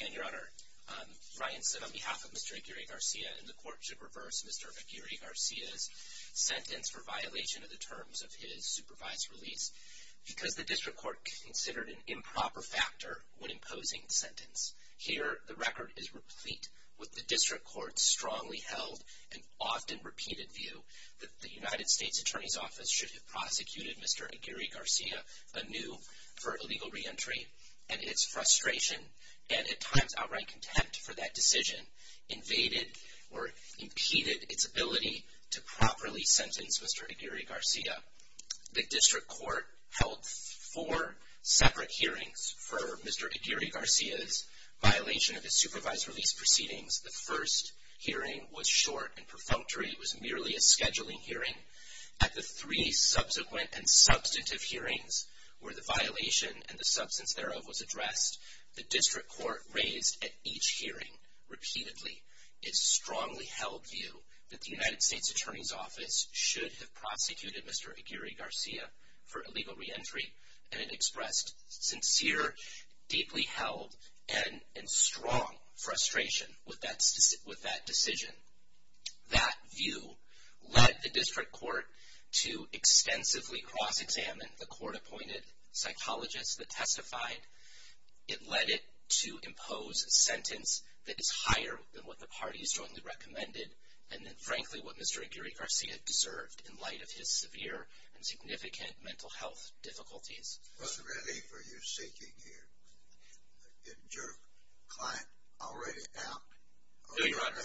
Your Honor, Ryan said on behalf of Mr. Aguirre-Garcia that the Court should reverse Mr. Aguirre-Garcia's sentence for violation of the terms of his supervised release because the District Court considered an improper factor when imposing the sentence. Here, the record is replete with the District Court's strongly held and often repeated view that the United States Attorney's Office should have prosecuted Mr. Aguirre-Garcia anew for illegal reentry and its frustration and at times outright contempt for that decision invaded or impeded its ability to properly sentence Mr. Aguirre-Garcia. The District Court held four separate hearings for Mr. Aguirre-Garcia's violation of his supervised release proceedings. The first hearing was short and perfunctory. It was merely a scheduling hearing. At the three subsequent and substantive hearings where the violation and the substance thereof was addressed, the District Court raised at each hearing repeatedly its strongly held view that the United States Attorney's Office should have prosecuted Mr. Aguirre-Garcia for illegal reentry and it expressed sincere, deeply held, and strong frustration with that decision. That view led the District Court to extensively cross-examine the court-appointed psychologist that testified. It led it to impose a sentence that is higher than what the party strongly recommended and frankly what Mr. Aguirre-Garcia deserved in light of his severe and significant mental health difficulties. What relief are you seeking here? Is your client already out? No, Your Honor.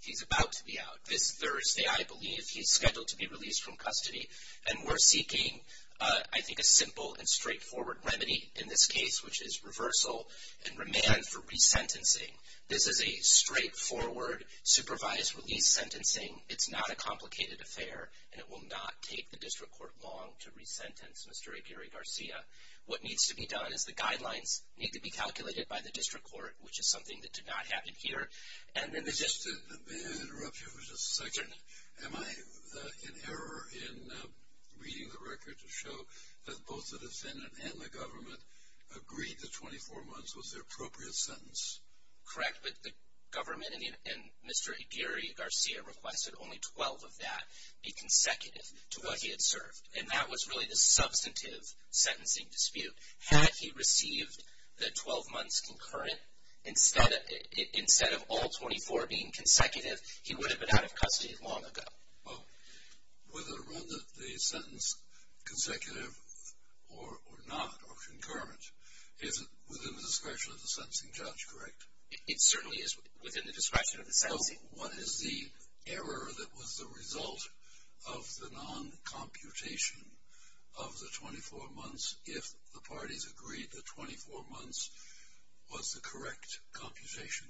He's about to be out. This Thursday, I believe, he's scheduled to be released from custody and we're seeking, I think, a simple and straightforward remedy in this case, which is reversal and remand for resentencing. This is a straightforward, supervised release sentencing. It's not a Mr. Aguirre-Garcia. What needs to be done is the guidelines need to be calculated by the District Court, which is something that did not happen here, and then they just... May I interrupt you for just a second? Sure. Am I in error in reading the record to show that both the defendant and the government agreed that 24 months was the appropriate sentence? Correct, but the government and Mr. Aguirre-Garcia requested only 12 of that be consecutive to what he had served, and that was really the substantive sentencing dispute. Had he received the 12 months concurrent instead of all 24 being consecutive, he would have been out of custody long ago. Well, whether to run the sentence consecutive or not, or concurrent, is it within the discretion of the sentencing judge, correct? It certainly is within the discretion of the sentencing. So, what is the error that was the result of the non-computation of the 24 months if the parties agreed that 24 months was the correct computation?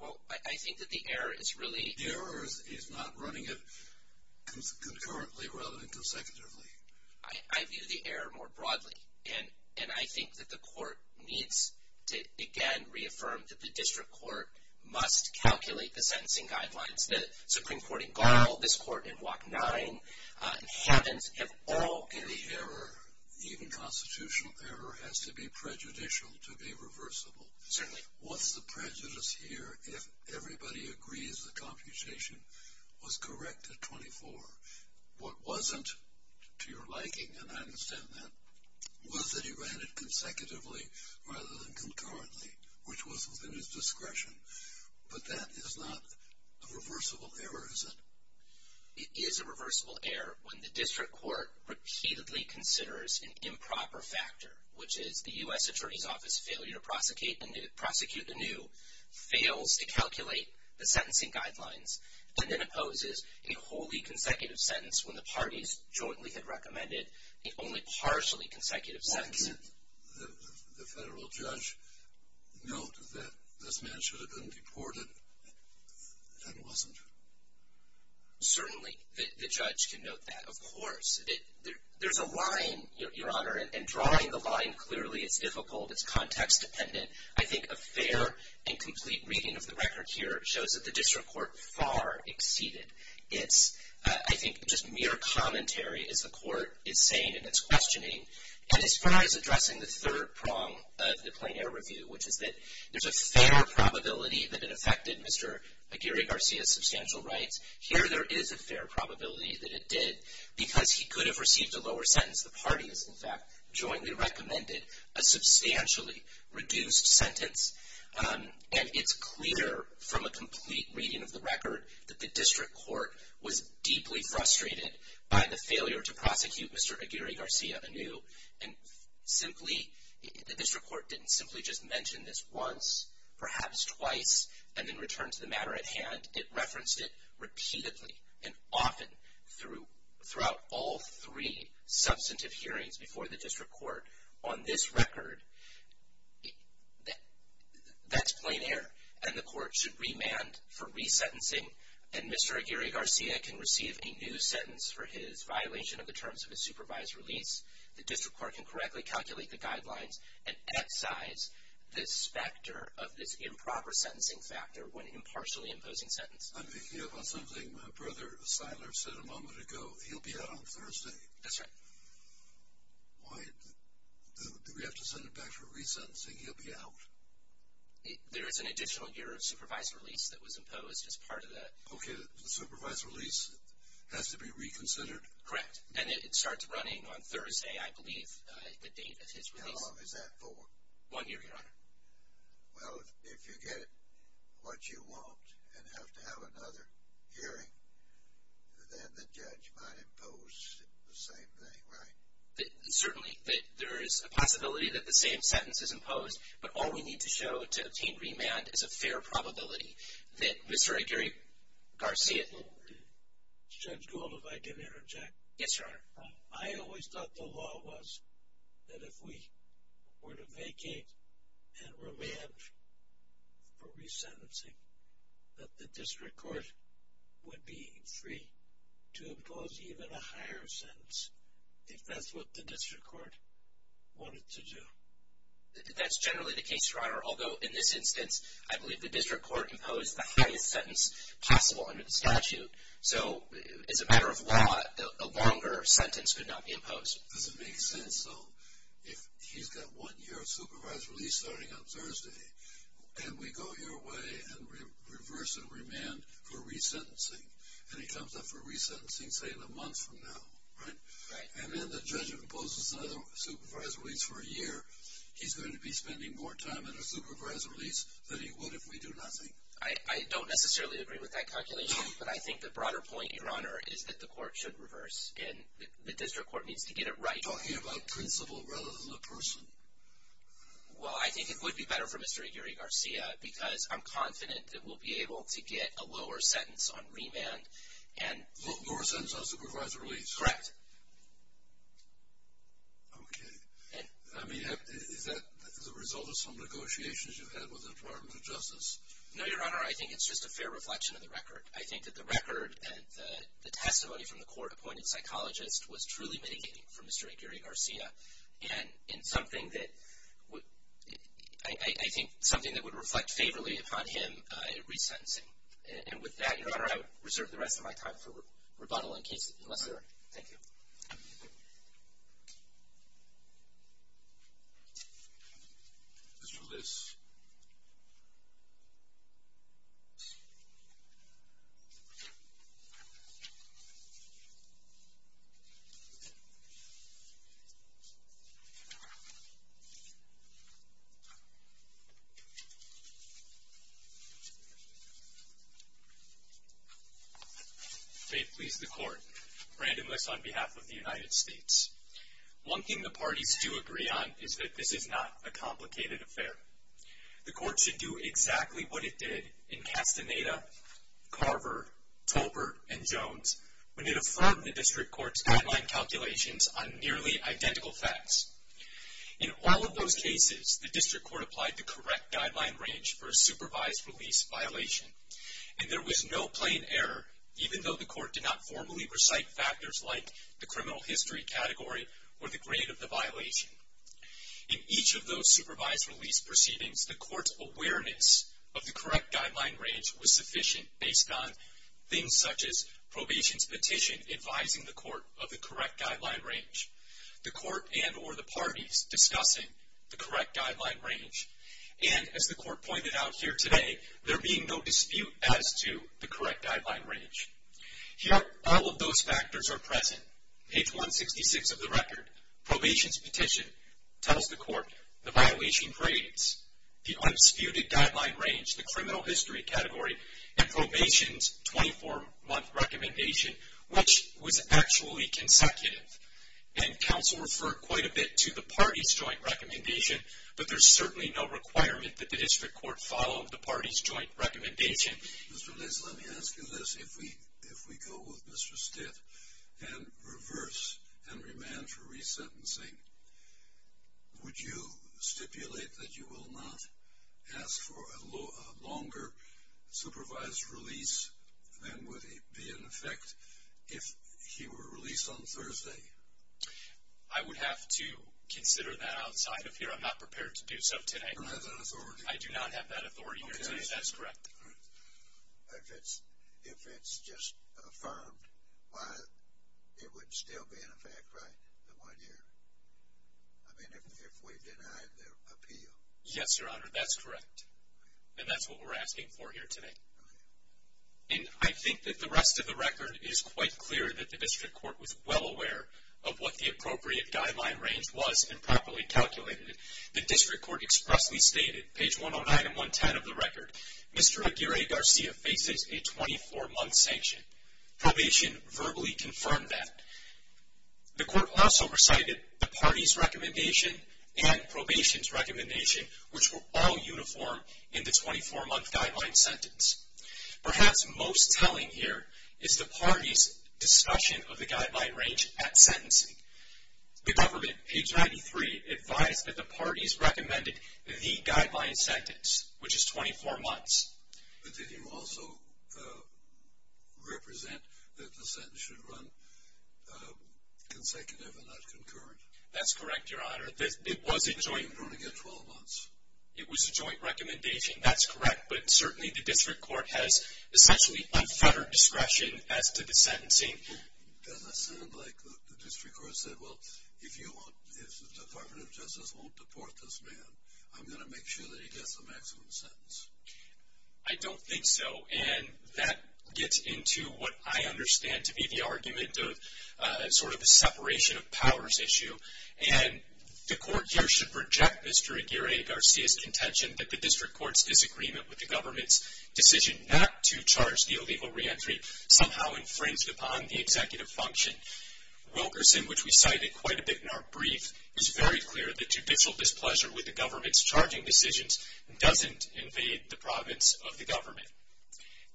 Well, I think that the error is really... The error is he's not running it concurrently rather than consecutively. I view the error more broadly, and I think that the court needs to, again, reaffirm that the district court must calculate the sentencing guidelines. The Supreme Court in Gall, this court in Block 9, haven't at all... And the error, even constitutional error, has to be prejudicial to be reversible. Certainly. What's the prejudice here if everybody agrees the computation was correct at 24? What wasn't, to your liking, and I understand that, was that he ran it consecutively rather than concurrently, which was within his discretion, but that is not a reversible error, is it? It is a reversible error when the district court repeatedly considers an improper factor, which is the U.S. Attorney's Office failure to prosecute anew, fails to calculate the sentencing guidelines, and then opposes a wholly consecutive sentence when the parties jointly had recommended the only partially consecutive sentence. Can't the federal judge note that this man should have been deported and wasn't? Certainly, the judge can note that, of course. There's a line, Your Honor, and drawing the line clearly, it's difficult, it's context dependent. I think a fair and complete reading of the record here shows that the district court far exceeded its, I think, just mere commentary, as the court is saying in its questioning. And as far as addressing the third prong of the Plain Air Review, which is that there's a fair probability that it affected Mr. Aguirre-Garcia's substantial rights, here there is a fair probability that it did because he could have received a lower sentence. The parties, in fact, jointly recommended a substantially reduced sentence, and it's clear from a complete reading of the record that the district court was deeply frustrated by the failure to prosecute Mr. Aguirre-Garcia anew. And simply, the district court didn't simply just mention this once, perhaps twice, and then return to the matter at hand. It referenced it repeatedly and often throughout all three substantive hearings before the district court on this record. That's plain air, and the court should remand for resentencing, and Mr. Aguirre-Garcia can receive a new sentence for his violation of the terms of his supervised release. The district court can correctly calculate the guidelines and excise this factor of this improper sentencing factor when impartially imposing sentence. I'm thinking about something Brother Seiler said a moment ago. He'll be out on Thursday. That's right. Do we have to send him back for resentencing? He'll be out? There is an additional year of supervised release that was imposed as part of that. Okay. The supervised release has to be reconsidered? Correct. And it starts running on Thursday, I believe, the date of his release. How long is that for? One year, Your Honor. Well, if you get what you want and have to have another hearing, then the judge might impose the same thing, right? Certainly. There is a possibility that the same sentence is imposed, but all we need to show to obtain remand is a fair probability that Mr. Aguirre-Garcia did. Judge Gould, if I can interject. Yes, Your Honor. I always thought the law was that if we were to vacate and remand for resentencing, that the district court would be free to impose even a higher sentence, if that's what the district court wanted to do. That's generally the case, Your Honor. Although, in this instance, I believe the district court imposed the highest sentence possible under the statute. So, as a matter of law, a longer sentence could not be imposed. Does it make sense, though, if he's got one year of supervised release starting on Thursday, and we go your way and reverse and remand for resentencing, and he comes up for resentencing, say, in a month from now, right? Right. And then the judge imposes another supervised release for a year. He's going to be spending more time in a supervised release than he would if we do nothing. I don't necessarily agree with that calculation, but I think the broader point, Your Honor, is that the court should reverse, and the district court needs to get it right. You're talking about principle rather than the person. Well, I think it would be better for Mr. Aguirre-Garcia because I'm confident that we'll be able to get a lower sentence on remand. Lower sentence on supervised release? Correct. Okay. I mean, is that the result of some negotiations you've had with the Department of Justice? No, Your Honor. I think it's just a fair reflection of the record. I think that the record and the testimony from the court-appointed psychologist was truly mitigating for Mr. Aguirre-Garcia. And something that I think would reflect favorably upon him in resentencing. And with that, Your Honor, I would reserve the rest of my time for rebuttal in case it was necessary. Thank you. Mr. Luce. May it please the court. Brandon Luce on behalf of the United States. One thing the parties do agree on is that this is not a complicated affair. The court should do exactly what it did in Castaneda, Carver, Tolbert, and Jones when it affirmed the district court's guideline calculations on nearly identical facts. In all of those cases, the district court applied the correct guideline range for a supervised release violation. And there was no plain error, even though the court did not formally recite factors like the criminal history category or the grade of the violation. In each of those supervised release proceedings, the court's awareness of the correct guideline range was sufficient based on things such as probation's petition advising the court of the correct guideline range, the court and or the parties discussing the correct guideline range. And as the court pointed out here today, there being no dispute as to the correct guideline range. Yet all of those factors are present. Page 166 of the record, probation's petition, tells the court the violation grades, the unspewed guideline range, the criminal history category, and probation's 24-month recommendation, which was actually consecutive. And counsel referred quite a bit to the parties' joint recommendation, but there's certainly no requirement that the district court follow the parties' joint recommendation. Mr. Liz, let me ask you this. If we go with Mr. Stitt and reverse and remand for resentencing, would you stipulate that you will not ask for a longer supervised release than would be in effect if he were released on Thursday? I would have to consider that outside of here. I'm not prepared to do so today. You don't have that authority? I do not have that authority. Okay. That's correct. If it's just affirmed, why, it would still be in effect, right, the one year? I mean, if we denied the appeal. Yes, Your Honor, that's correct. And that's what we're asking for here today. And I think that the rest of the record is quite clear that the district court was well aware of what the appropriate guideline range was and properly calculated it. The district court expressly stated, page 109 and 110 of the record, Mr. Aguirre-Garcia faces a 24-month sanction. Probation verbally confirmed that. The court also recited the party's recommendation and probation's recommendation, which were all uniform in the 24-month guideline sentence. Perhaps most telling here is the party's discussion of the guideline range at sentencing. The government, page 93, advised that the parties recommended the guideline sentence, which is 24 months. But did you also represent that the sentence should run consecutive and not concurrent? That's correct, Your Honor. It was a joint. It should run again 12 months. It was a joint recommendation. That's correct. But certainly the district court has essentially unfettered discretion as to the sentencing. Well, doesn't it sound like the district court said, well, if the Department of Justice won't deport this man, I'm going to make sure that he gets the maximum sentence? I don't think so. And that gets into what I understand to be the argument of sort of a separation of powers issue. And the court here should reject Mr. Aguirre-Garcia's contention that the district court's disagreement with the government's decision not to charge the illegal reentry somehow infringed upon the executive function. Wilkerson, which we cited quite a bit in our brief, is very clear that judicial displeasure with the government's charging decisions doesn't invade the province of the government.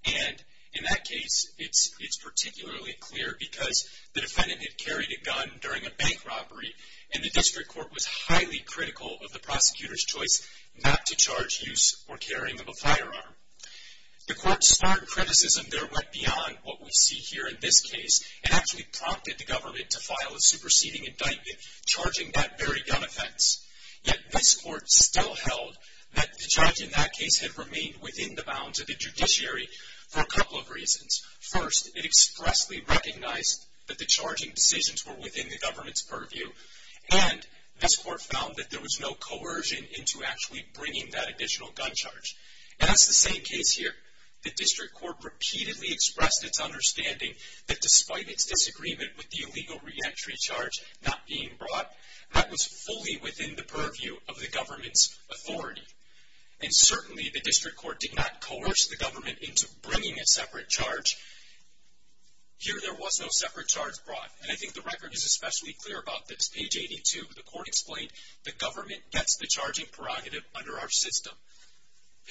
And in that case, it's particularly clear because the defendant had carried a gun during a bank robbery, and the district court was highly critical of the prosecutor's choice not to charge use or carrying of a firearm. The court's stark criticism there went beyond what we see here in this case and actually prompted the government to file a superseding indictment charging that very gun offense. Yet this court still held that the judge in that case had remained within the bounds of the judiciary for a couple of reasons. First, it expressly recognized that the charging decisions were within the government's purview, and this court found that there was no coercion into actually bringing that additional gun charge. And that's the same case here. The district court repeatedly expressed its understanding that despite its disagreement with the illegal reentry charge not being brought, that was fully within the purview of the government's authority. And certainly the district court did not coerce the government into bringing a separate charge. Here there was no separate charge brought, and I think the record is especially clear about this. Page 82, the court explained, the government gets the charging prerogative under our system.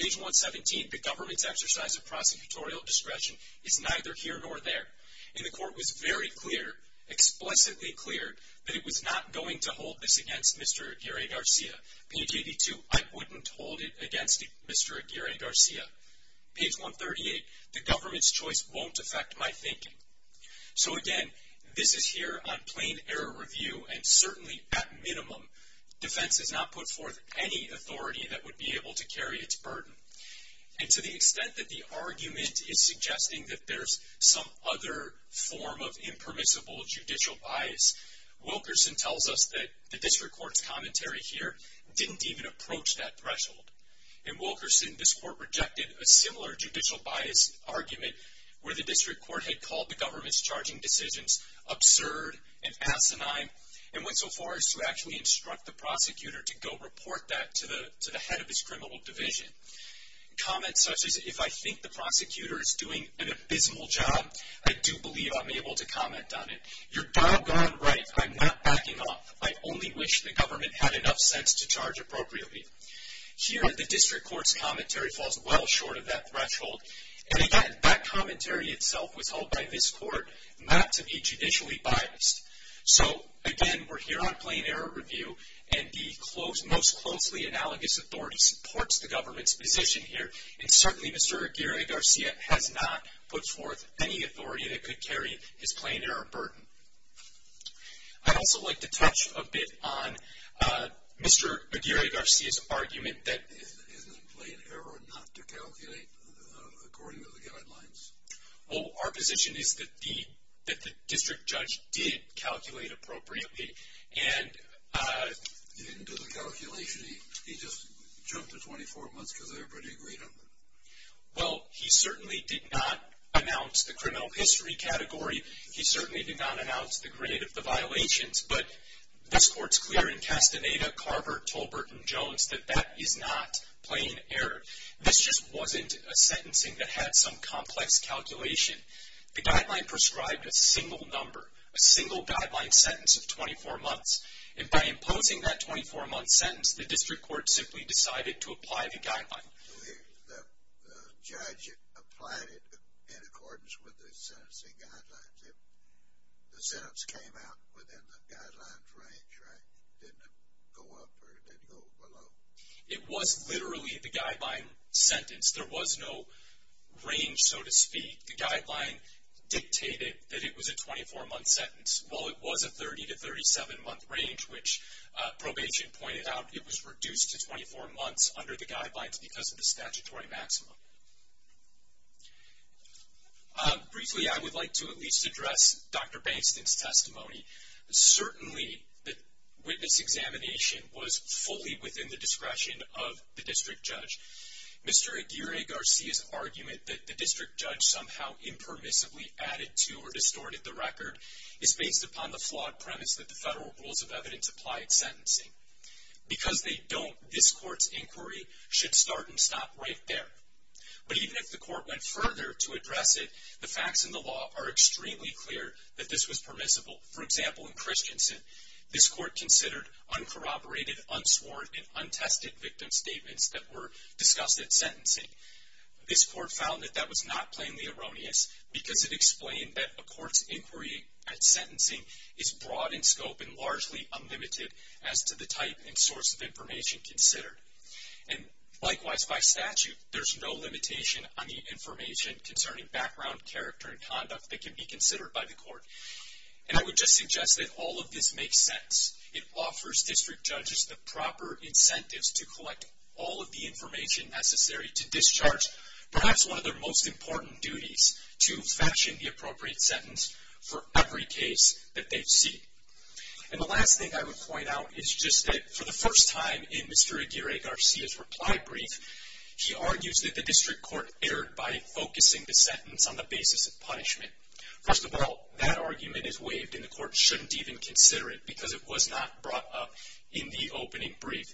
Page 117, the government's exercise of prosecutorial discretion is neither here nor there. And the court was very clear, explicitly clear, that it was not going to hold this against Mr. Aguirre-Garcia. Page 82, I wouldn't hold it against Mr. Aguirre-Garcia. Page 138, the government's choice won't affect my thinking. So again, this is here on plain error review, and certainly at minimum, defense has not put forth any authority that would be able to carry its burden. And to the extent that the argument is suggesting that there's some other form of impermissible judicial bias, Wilkerson tells us that the district court's commentary here didn't even approach that threshold. In Wilkerson, this court rejected a similar judicial bias argument where the district court had called the government's charging decisions absurd and asinine and went so far as to actually instruct the prosecutor to go report that to the head of his criminal division. Comments such as, if I think the prosecutor is doing an abysmal job, I do believe I'm able to comment on it. You're doggone right. I'm not backing off. I only wish the government had enough sense to charge appropriately. Here, the district court's commentary falls well short of that threshold. And again, that commentary itself was held by this court not to be judicially biased. So again, we're here on plain error review, and the most closely analogous authority supports the government's position here, and certainly Mr. Aguirre-Garcia has not put forth any authority that could carry his plain error burden. I'd also like to touch a bit on Mr. Aguirre-Garcia's argument that- Isn't it plain error not to calculate according to the guidelines? Well, our position is that the district judge did calculate appropriately, and- He didn't do the calculation. He just jumped to 24 months because everybody agreed on it. Well, he certainly did not announce the criminal history category. He certainly did not announce the grade of the violations. But this court's clear in Castaneda, Carver, Tolbert, and Jones that that is not plain error. This just wasn't a sentencing that had some complex calculation. The guideline prescribed a single number, a single guideline sentence of 24 months. And by imposing that 24-month sentence, the district court simply decided to apply the guideline. The judge applied it in accordance with the sentencing guidelines. The sentence came out within the guidelines range, right? It didn't go up or it didn't go below. It was literally the guideline sentence. There was no range, so to speak. The guideline dictated that it was a 24-month sentence. While it was a 30- to 37-month range, which probation pointed out, it was reduced to 24 months under the guidelines because of the statutory maximum. Briefly, I would like to at least address Dr. Bankston's testimony. Certainly, the witness examination was fully within the discretion of the district judge. Mr. Aguirre-Garcia's argument that the district judge somehow impermissibly added to or distorted the record is based upon the flawed premise that the federal rules of evidence applied sentencing. Because they don't, this court's inquiry should start and stop right there. But even if the court went further to address it, the facts in the law are extremely clear that this was permissible. For example, in Christensen, this court considered uncorroborated, unsworn, and untested victim statements that were discussed at sentencing. This court found that that was not plainly erroneous because it explained that a court's inquiry at sentencing is broad in scope and largely unlimited as to the type and source of information considered. And likewise, by statute, there's no limitation on the information concerning background, character, and conduct that can be considered by the court. And I would just suggest that all of this makes sense. It offers district judges the proper incentives to collect all of the information necessary to discharge perhaps one of their most important duties, to fetch in the appropriate sentence for every case that they've seen. And the last thing I would point out is just that for the first time in Mr. Aguirre-Garcia's reply brief, he argues that the district court erred by focusing the sentence on the basis of punishment. First of all, that argument is waived and the court shouldn't even consider it because it was not brought up in the opening brief.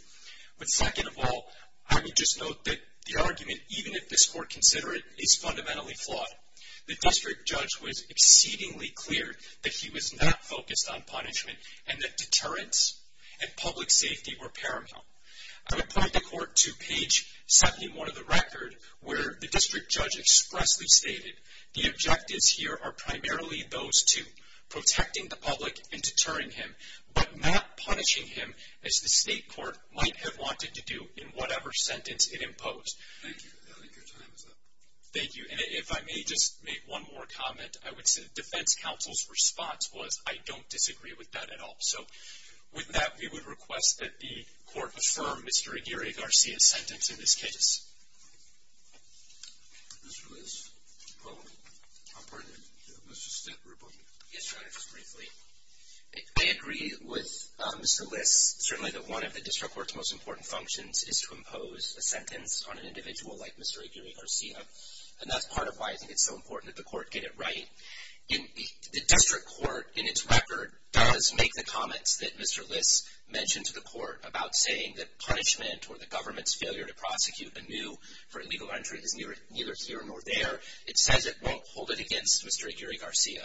But second of all, I would just note that the argument, even if this court consider it, is fundamentally flawed. The district judge was exceedingly clear that he was not focused on punishment and that deterrence and public safety were paramount. I would point the court to page 71 of the record where the district judge expressly stated, the objectives here are primarily those two, protecting the public and deterring him, but not punishing him as the state court might have wanted to do in whatever sentence it imposed. Thank you. I think your time is up. Thank you. And if I may just make one more comment, I would say the defense counsel's response was, I don't disagree with that at all. So with that, we would request that the court affirm Mr. Aguirre-Garcia's sentence in this case. Mr. Liss? Mr. Stitt, report. Yes, Your Honor, just briefly. I agree with Mr. Liss, certainly that one of the district court's most important functions is to impose a sentence on an individual like Mr. Aguirre-Garcia, and that's part of why I think it's so important that the court get it right. The district court, in its record, does make the comments that Mr. Liss mentioned to the court about saying that punishment or the government's failure to prosecute anew for illegal entry is neither here nor there. It says it won't hold it against Mr. Aguirre-Garcia.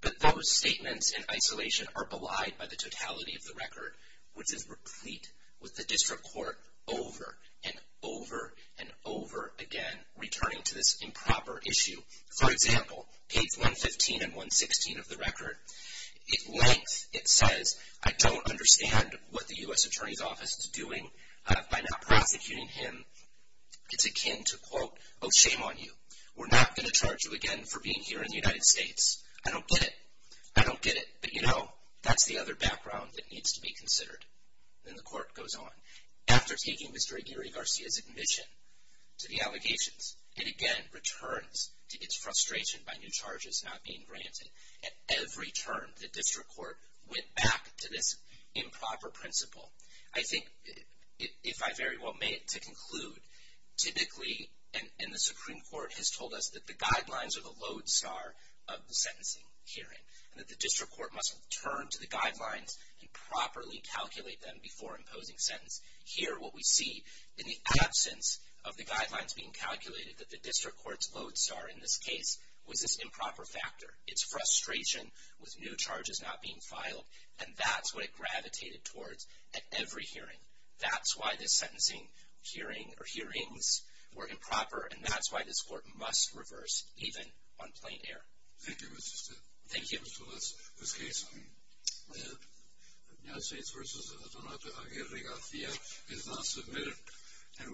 But those statements in isolation are belied by the totality of the record, which is replete with the district court over and over and over again returning to this improper issue. For example, page 115 and 116 of the record, at length it says, I don't understand what the U.S. Attorney's Office is doing by not prosecuting him. It's akin to, quote, oh, shame on you. We're not going to charge you again for being here in the United States. I don't get it. I don't get it. But, you know, that's the other background that needs to be considered. Then the court goes on. After taking Mr. Aguirre-Garcia's admission to the allegations, it again returns to its frustration by new charges not being granted. At every turn, the district court went back to this improper principle. I think, if I very well may, to conclude, typically, and the Supreme Court has told us, that the guidelines are the lodestar of the sentencing hearing and that the district court must return to the guidelines and properly calculate them before imposing sentence. Here, what we see, in the absence of the guidelines being calculated, that the district court's lodestar in this case was this improper factor. It's frustration with new charges not being filed, and that's what it gravitated towards at every hearing. That's why this sentencing hearing or hearings were improper, and that's why this court must reverse, even on plain air. Thank you, Mr. Stewart. Thank you. So that's this case. The United States v. Donato Aguirre-Garcia is not submitted.